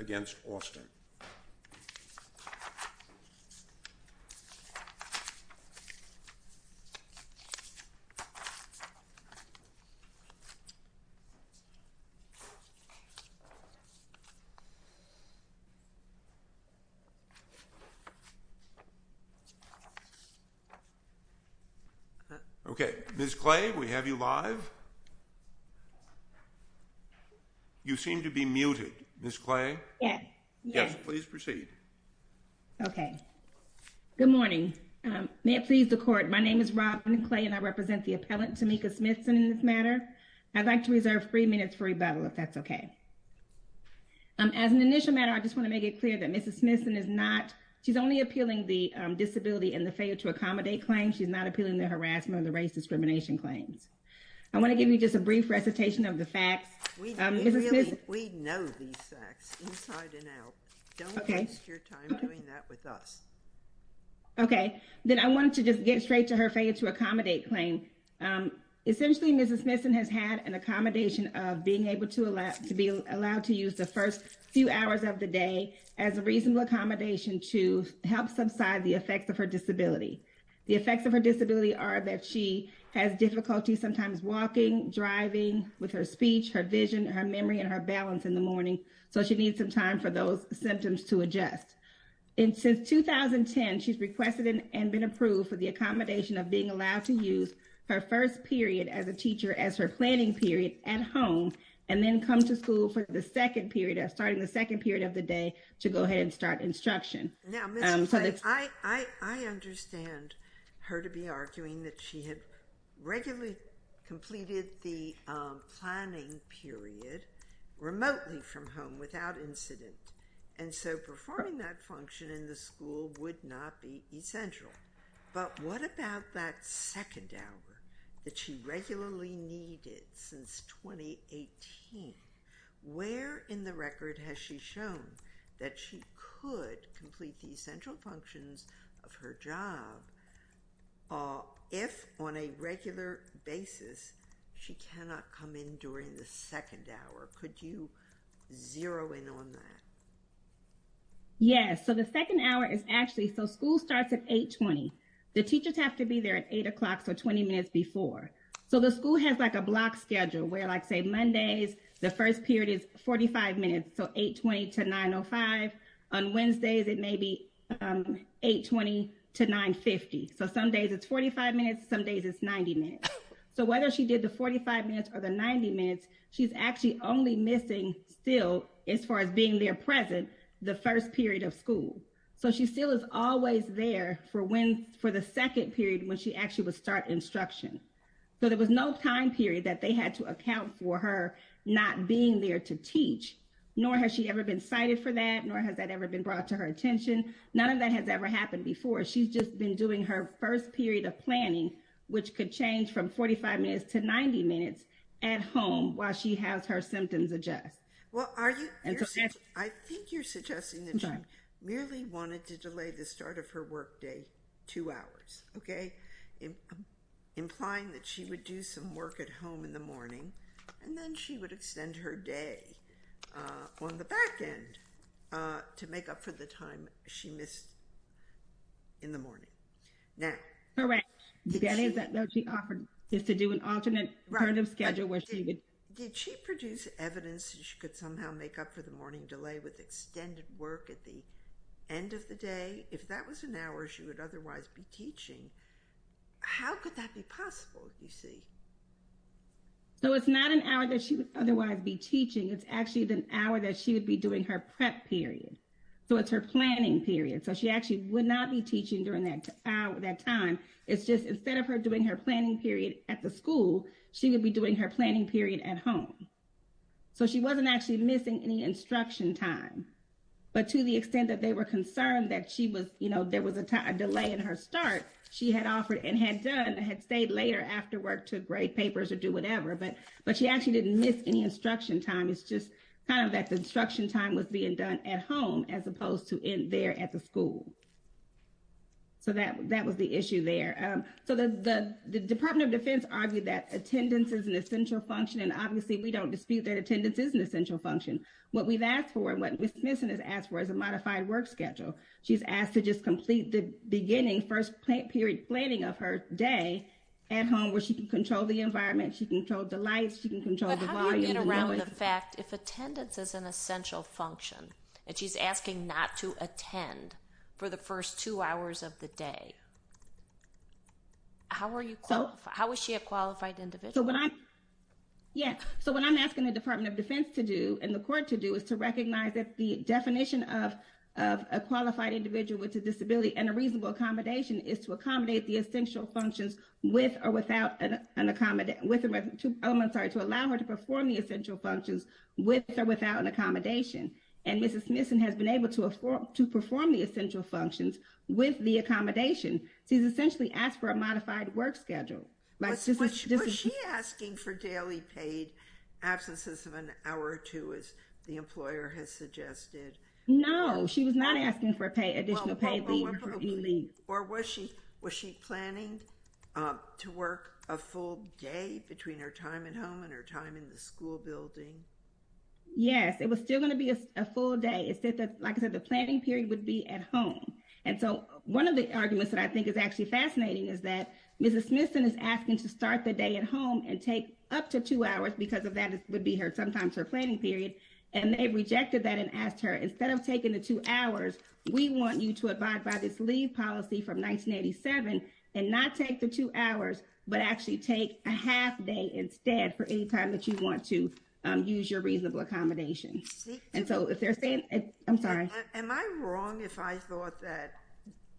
against Austin. Okay, Ms. Clay, we have you live. You seem to be muted. Ms. Clay? Yes. Yes, please proceed. Okay. Good morning. May it please the court, my name is Robin Clay and I represent the appellant, Tamika Smithson, in this matter. I'd like to reserve three minutes for rebuttal, if that's okay. As an initial matter, I just want to make it clear that Mrs. Smithson is not, she's only appealing the disability and the failure to accommodate claims. She's not appealing the harassment and the race discrimination claims. I want to give you just a brief recitation of the facts. We know these facts inside and out. Don't waste your time doing that with us. Okay, then I wanted to just get straight to her failure to accommodate claim. Essentially, Mrs. Smithson has had an accommodation of being able to allow, to be allowed to use the first few hours of the day as a reasonable accommodation to help subside the effects of her disability. The effects of her disability are that she has difficulty sometimes walking, driving with her speech, her vision, her memory, and her balance in the morning, so she needs some time for those symptoms to adjust. And since 2010, she's requested and been approved for the accommodation of being allowed to use her first period as a teacher as her planning period at home, and then come to school for the second period of starting the second period of the day to go ahead and start instruction. Now, Mrs. Clay, I understand her to be arguing that she had regularly completed the planning period remotely from home without incident, and so performing that function in the school would not be essential. But what about that second hour that she regularly needed since 2018? Where in the record has she shown that she could complete the essential functions of her job if, on a regular basis, she cannot come in during the second hour? Could you zero in on that? Yes, so the second hour is actually, so school starts at 8.20. The teachers have to be there at 8 o'clock, so 20 minutes before. So the school has like a block schedule where, like, say, Mondays, the first period is 45 minutes, so 8.20 to 9.05. On Wednesdays, it may be 8.20 to 9.50. So some days it's 45 minutes, some days it's 90 minutes. So whether she did the 45 minutes or the 90 minutes, she's actually only missing still, as far as being there present, the first period of school. So she still is always there for the second period when she actually would start instruction. So there was no time period that they had to account for her not being there to teach, nor has she ever been cited for that, nor has that ever been brought to her attention. None of that has ever happened before. She's just been doing her first period of planning, which could change from 45 minutes to 90 minutes at home while she has her symptoms adjust. I think you're suggesting that she merely wanted to delay the start of her work day two hours, okay, implying that she would do some work at home in the morning, and then she would extend her day on the back end to make up for the time she missed in the morning. Correct. That is what she offered, is to do an alternate schedule where she would... Did she produce evidence that she could somehow make up for the morning delay with extended work at the end of the day? If that was an hour she would otherwise be teaching, how could that be possible, you see? So it's not an hour that she would otherwise be teaching. It's actually the hour that she would be doing her prep period. So it's her planning period. So she actually would not be teaching during that time. It's just instead of her doing her planning period at the school, she would be doing her planning period at home. So she wasn't actually missing any instruction time. But to the extent that they were concerned that she was, you know, there was a delay in her start, she had offered and had done, had stayed later after work to grade papers or do whatever. But she actually didn't miss any instruction time. It's just kind of that the instruction time was being done at home as opposed to in there at the school. So that was the issue there. So the Department of Defense argued that attendance is an essential function, and obviously we don't dispute that attendance is an essential function. What we've asked for and what Ms. Smithson has asked for is a modified work schedule. She's asked to just complete the beginning first period planning of her day at home where she can control the environment, she can control the lights, she can control the volume. But she's asking to get around the fact if attendance is an essential function, and she's asking not to attend for the first two hours of the day. How is she a qualified individual? Yeah, so what I'm asking the Department of Defense to do and the court to do is to recognize that the definition of a qualified individual with a disability and a reasonable accommodation is to accommodate the essential functions with or without an accommodate with two elements are to allow her to perform the essential functions with or without an accommodation. And Mrs. Smithson has been able to perform the essential functions with the accommodation. She's essentially asked for a modified work schedule. Was she asking for daily paid absences of an hour or two as the employer has suggested? No, she was not asking for additional paid leave. Or was she planning to work a full day between her time at home and her time in the school building? Yes, it was still going to be a full day. Like I said, the planning period would be at home. And so one of the arguments that I think is actually fascinating is that Mrs. Smithson is asking to start the day at home and take up to two hours because of that would be her sometimes her planning period. And they rejected that and asked her instead of taking the two hours, we want you to abide by this leave policy from 1987 and not take the two hours, but actually take a half day instead for any time that you want to use your reasonable accommodation. Am I wrong if I thought that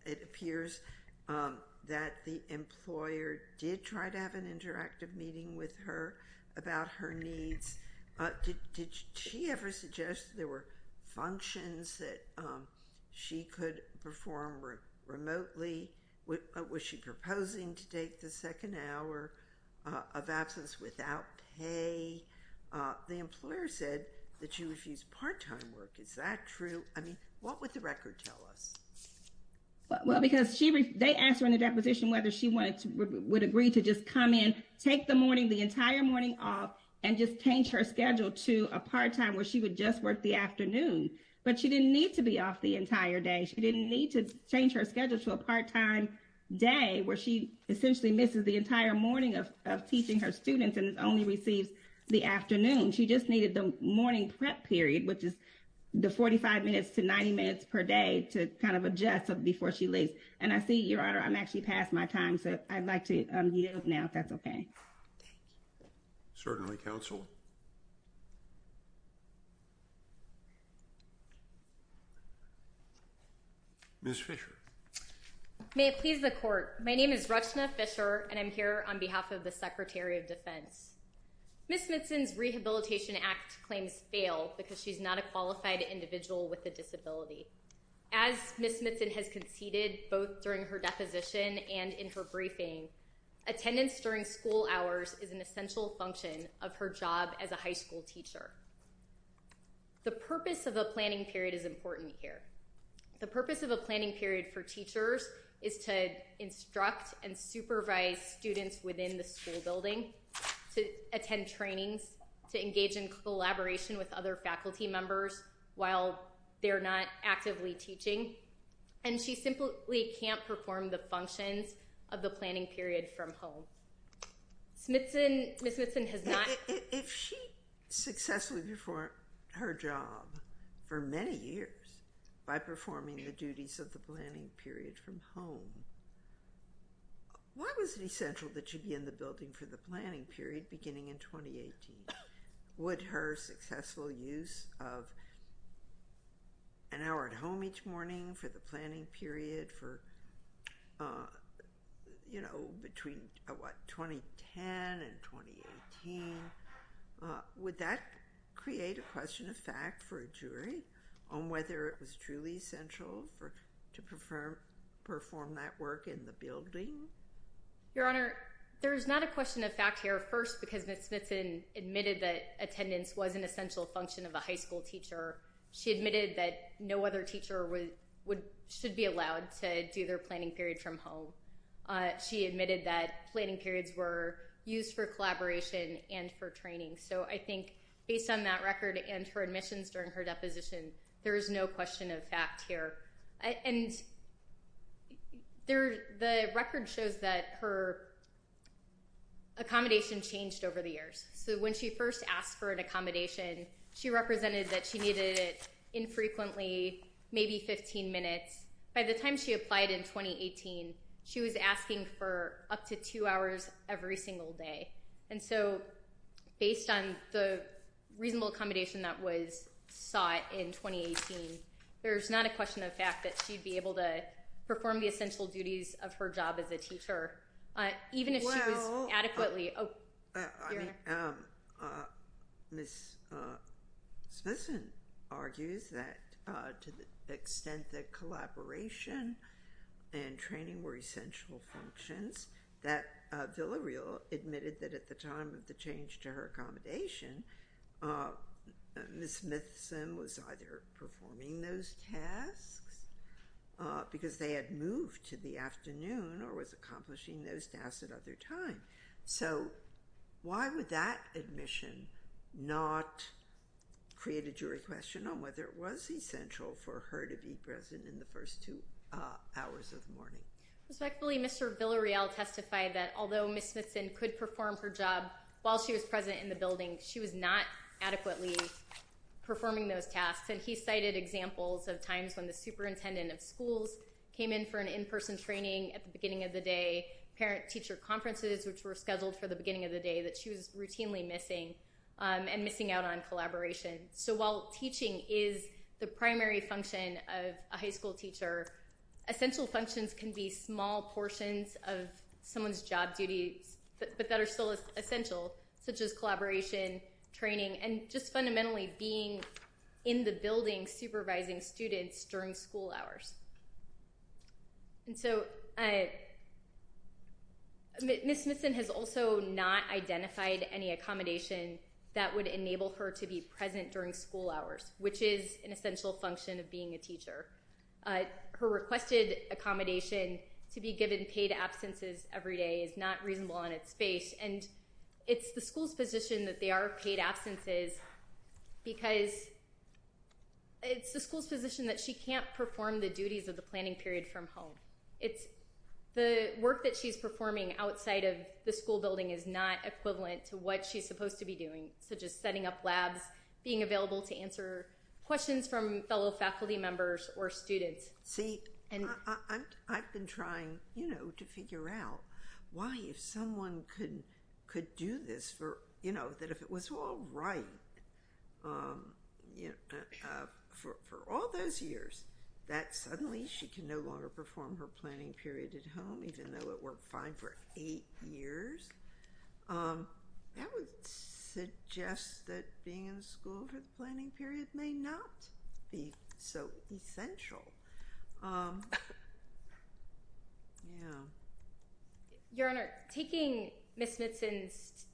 it appears that the employer did try to have an interactive meeting with her about her needs? Did she ever suggest there were functions that she could perform remotely? Was she proposing to take the second hour of absence without pay? The employer said that she refused part-time work. Is that true? I mean, what would the record tell us? Well, because they asked her in the deposition whether she would agree to just come in, take the morning, the entire morning off, and just change her schedule to a part-time where she would just work the afternoon. But she didn't need to be off the entire day. She didn't need to change her schedule to a part-time day where she essentially misses the entire morning of teaching her students and only receives the afternoon. She just needed the morning prep period, which is the 45 minutes to 90 minutes per day to kind of adjust before she leaves. And I see, Your Honor, I'm actually past my time, so I'd like to yield now if that's okay. Thank you. Certainly, counsel. Ms. Fischer. May it please the Court. My name is Rachna Fischer, and I'm here on behalf of the Secretary of Defense. Ms. Mitson's Rehabilitation Act claims fail because she's not a qualified individual with a disability. As Ms. Mitson has conceded both during her deposition and in her briefing, attendance during school hours is an essential function of her job as a high school teacher. The purpose of a planning period is important here. The purpose of a planning period for teachers is to instruct and supervise students within the school building, to attend trainings, to engage in collaboration with other faculty members while they're not actively teaching. And she simply can't perform the functions of the planning period from home. Ms. Mitson has not— If she successfully performed her job for many years by performing the duties of the planning period from home, why was it essential that she be in the building for the planning period beginning in 2018? Would her successful use of an hour at home each morning for the planning period for, you know, between, what, 2010 and 2018, would that create a question of fact for a jury on whether it was truly essential to perform that work in the building? Your Honor, there is not a question of fact here. First, because Ms. Mitson admitted that attendance was an essential function of a high school teacher, she admitted that no other teacher should be allowed to do their planning period from home. She admitted that planning periods were used for collaboration and for training. So I think, based on that record and her admissions during her deposition, there is no question of fact here. And the record shows that her accommodation changed over the years. So when she first asked for an accommodation, she represented that she needed it infrequently, maybe 15 minutes. By the time she applied in 2018, she was asking for up to two hours every single day. And so, based on the reasonable accommodation that was sought in 2018, there's not a question of fact that she'd be able to perform the essential duties of her job as a teacher, even if she was adequately- Ms. Mitson argues that to the extent that collaboration and training were essential functions, that Villareal admitted that at the time of the change to her accommodation, Ms. Mitson was either performing those tasks because they had moved to the afternoon or was accomplishing those tasks at other times. So why would that admission not create a jury question on whether it was essential for her to be present in the first two hours of the morning? Respectfully, Mr. Villareal testified that although Ms. Mitson could perform her job while she was present in the building, she was not adequately performing those tasks. And he cited examples of times when the superintendent of schools came in for an in-person training at the beginning of the day, parent-teacher conferences which were scheduled for the beginning of the day that she was routinely missing, and missing out on collaboration. So while teaching is the primary function of a high school teacher, essential functions can be small portions of someone's job duties, but that are still essential, such as collaboration, training, and just fundamentally being in the building supervising students during school hours. And so Ms. Mitson has also not identified any accommodation that would enable her to be present during school hours, which is an essential function of being a teacher. Her requested accommodation to be given paid absences every day is not reasonable in its space, and it's the school's position that they are paid absences because it's the school's position that she can't perform the duties of the planning period from home. The work that she's performing outside of the school building is not equivalent to what she's supposed to be doing, such as setting up labs, being available to answer questions from fellow faculty members or students. See, I've been trying to figure out why if someone could do this, that if it was all right for all those years that suddenly she can no longer perform her planning period at home even though it worked fine for eight years, that would suggest that being in school for the planning period may not be so essential. Your Honor, taking Ms. Mitson's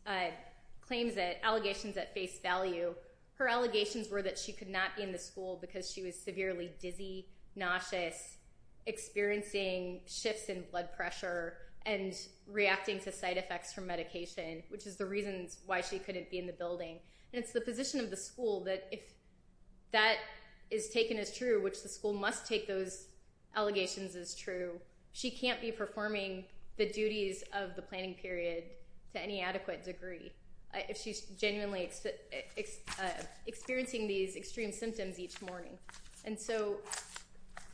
claims that allegations at face value, her allegations were that she could not be in the school because she was severely dizzy, nauseous, experiencing shifts in blood pressure, and reacting to side effects from medication, which is the reason why she couldn't be in the building. It's the position of the school that if that is taken as true, which the school must take those allegations as true, she can't be performing the duties of the planning period to any adequate degree if she's genuinely experiencing these extreme symptoms each morning. And so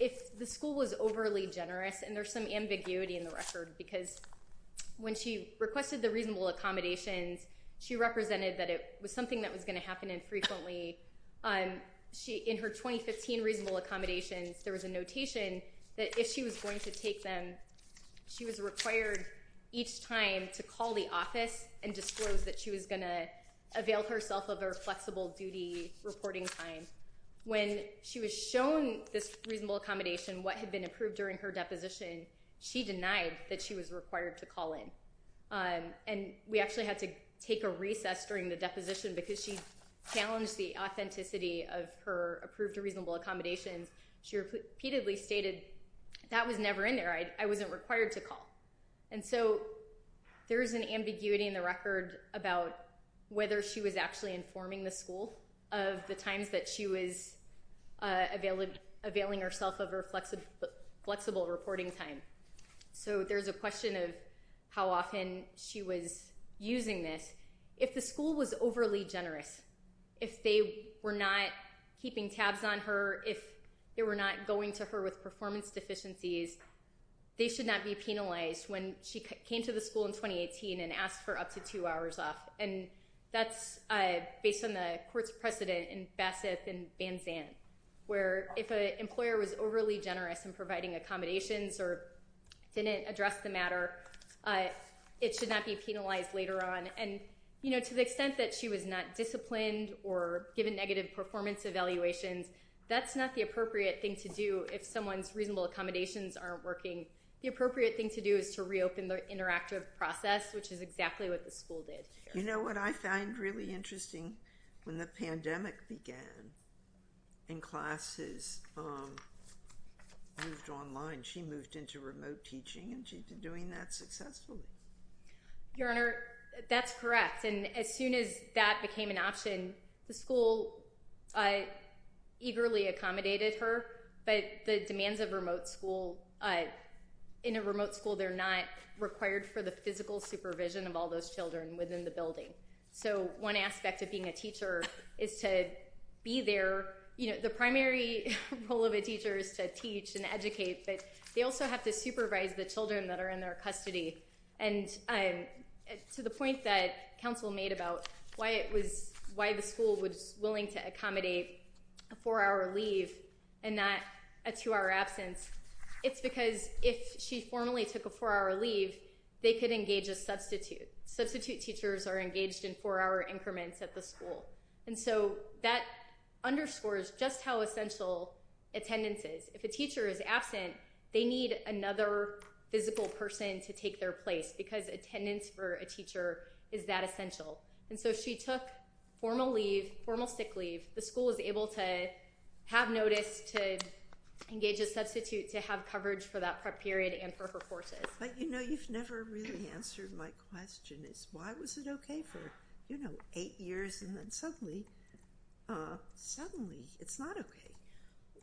if the school was overly generous, and there's some ambiguity in the record, because when she requested the reasonable accommodations, she represented that it was something that was going to happen infrequently. In her 2015 reasonable accommodations, there was a notation that if she was going to take them, she was required each time to call the office and disclose that she was going to avail herself of her flexible duty reporting time. When she was shown this reasonable accommodation, what had been approved during her deposition, she denied that she was required to call in. And we actually had to take a recess during the deposition because she challenged the authenticity of her approved reasonable accommodations. She repeatedly stated, that was never in there. I wasn't required to call. And so there is an ambiguity in the record about whether she was actually informing the school of the times that she was availing herself of her flexible reporting time. So there's a question of how often she was using this. If the school was overly generous, if they were not keeping tabs on her, if they were not going to her with performance deficiencies, they should not be penalized when she came to the school in 2018 and asked for up to two hours off. And that's based on the court's precedent in Bassett and Van Zandt, where if an employer was overly generous in providing accommodations or didn't address the matter, it should not be penalized later on. And to the extent that she was not disciplined or given negative performance evaluations, that's not the appropriate thing to do if someone's reasonable accommodations aren't working. The appropriate thing to do is to reopen the interactive process, which is exactly what the school did. You know what I find really interesting? When the pandemic began and classes moved online, she moved into remote teaching and she's been doing that successfully. Your Honor, that's correct. And as soon as that became an option, the school eagerly accommodated her. But the demands of remote school, in a remote school, they're not required for the physical supervision of all those children within the building. So one aspect of being a teacher is to be there. The primary role of a teacher is to teach and educate, but they also have to supervise the children that are in their custody. And to the point that counsel made about why the school was willing to accommodate a four-hour leave and not a two-hour absence, it's because if she formally took a four-hour leave, they could engage a substitute. Substitute teachers are engaged in four-hour increments at the school. And so that underscores just how essential attendance is. If a teacher is absent, they need another physical person to take their place because attendance for a teacher is that essential. And so she took formal leave, formal sick leave. The school was able to have notice, to engage a substitute, to have coverage for that prep period and for her courses. But, you know, you've never really answered my question. Why was it okay for, you know, eight years and then suddenly it's not okay?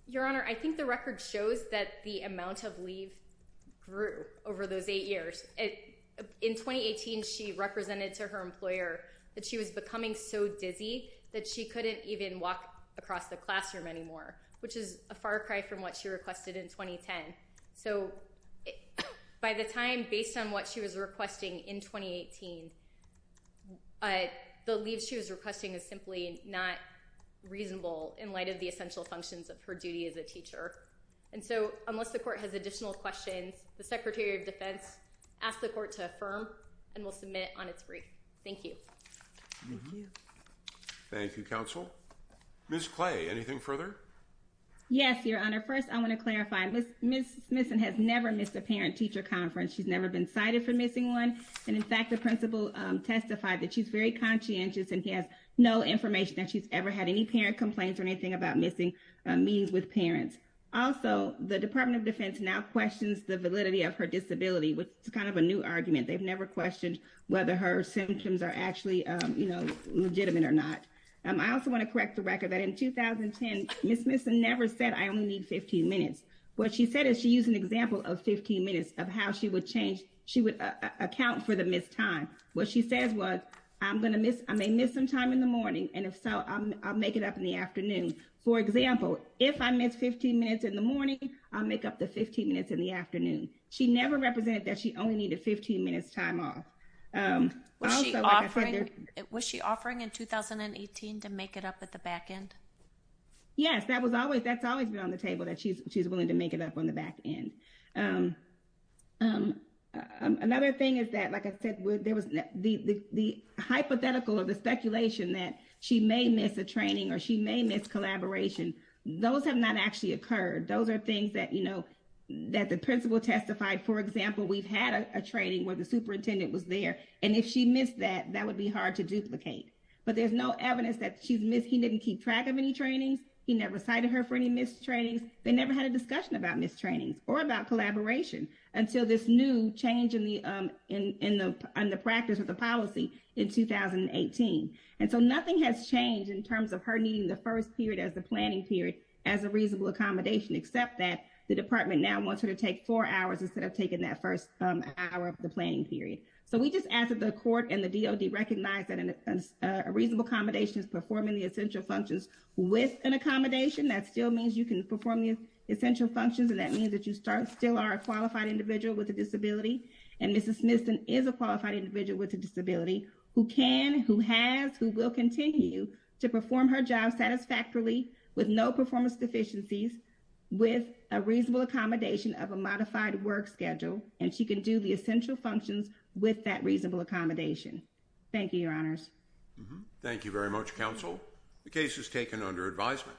Your Honor, I think the record shows that the amount of leave grew over those eight years. In 2018, she represented to her employer that she was becoming so dizzy that she couldn't even walk across the classroom anymore, which is a far cry from what she requested in 2010. So by the time based on what she was requesting in 2018, the leave she was requesting is simply not reasonable in light of the essential functions of her duty as a teacher. And so unless the court has additional questions, the Secretary of Defense asks the court to affirm and will submit on its brief. Thank you. Thank you, Counsel. Ms. Clay, anything further? Yes, Your Honor. First, I want to clarify, Ms. Smithson has never missed a parent-teacher conference. She's never been cited for missing one. And, in fact, the principal testified that she's very conscientious and has no information that she's ever had any parent complaints or anything about missing meetings with parents. Also, the Department of Defense now questions the validity of her disability, which is kind of a new argument. They've never questioned whether her symptoms are actually legitimate or not. I also want to correct the record that in 2010, Ms. Smithson never said, I only need 15 minutes. What she said is she used an example of 15 minutes of how she would change, she would account for the missed time. What she says was, I may miss some time in the morning, and if so, I'll make it up in the afternoon. For example, if I miss 15 minutes in the morning, I'll make up the 15 minutes in the afternoon. She never represented that she only needed 15 minutes' time off. Was she offering in 2018 to make it up at the back end? Yes, that's always been on the table, that she's willing to make it up on the back end. Another thing is that, like I said, the hypothetical or the speculation that she may miss a training or she may miss collaboration, those have not actually occurred. Those are things that the principal testified. For example, we've had a training where the superintendent was there, and if she missed that, that would be hard to duplicate. But there's no evidence that she's missed. He didn't keep track of any trainings. He never cited her for any missed trainings. They never had a discussion about missed trainings or about collaboration until this new change in the practice of the policy in 2018. And so nothing has changed in terms of her needing the first period as the planning period as a reasonable accommodation, except that the department now wants her to take four hours instead of taking that first hour of the planning period. So we just ask that the court and the DOD recognize that a reasonable accommodation is performing the essential functions with an accommodation. That still means you can perform the essential functions, and that means that you still are a qualified individual with a disability, and Mrs. Smithson is a qualified individual with a disability who can, who has, who will continue to perform her job satisfactorily with no performance deficiencies with a reasonable accommodation of a modified work schedule, and she can do the essential functions with that reasonable accommodation. Thank you, Your Honors. Thank you very much, Counsel. The case is taken under advisement.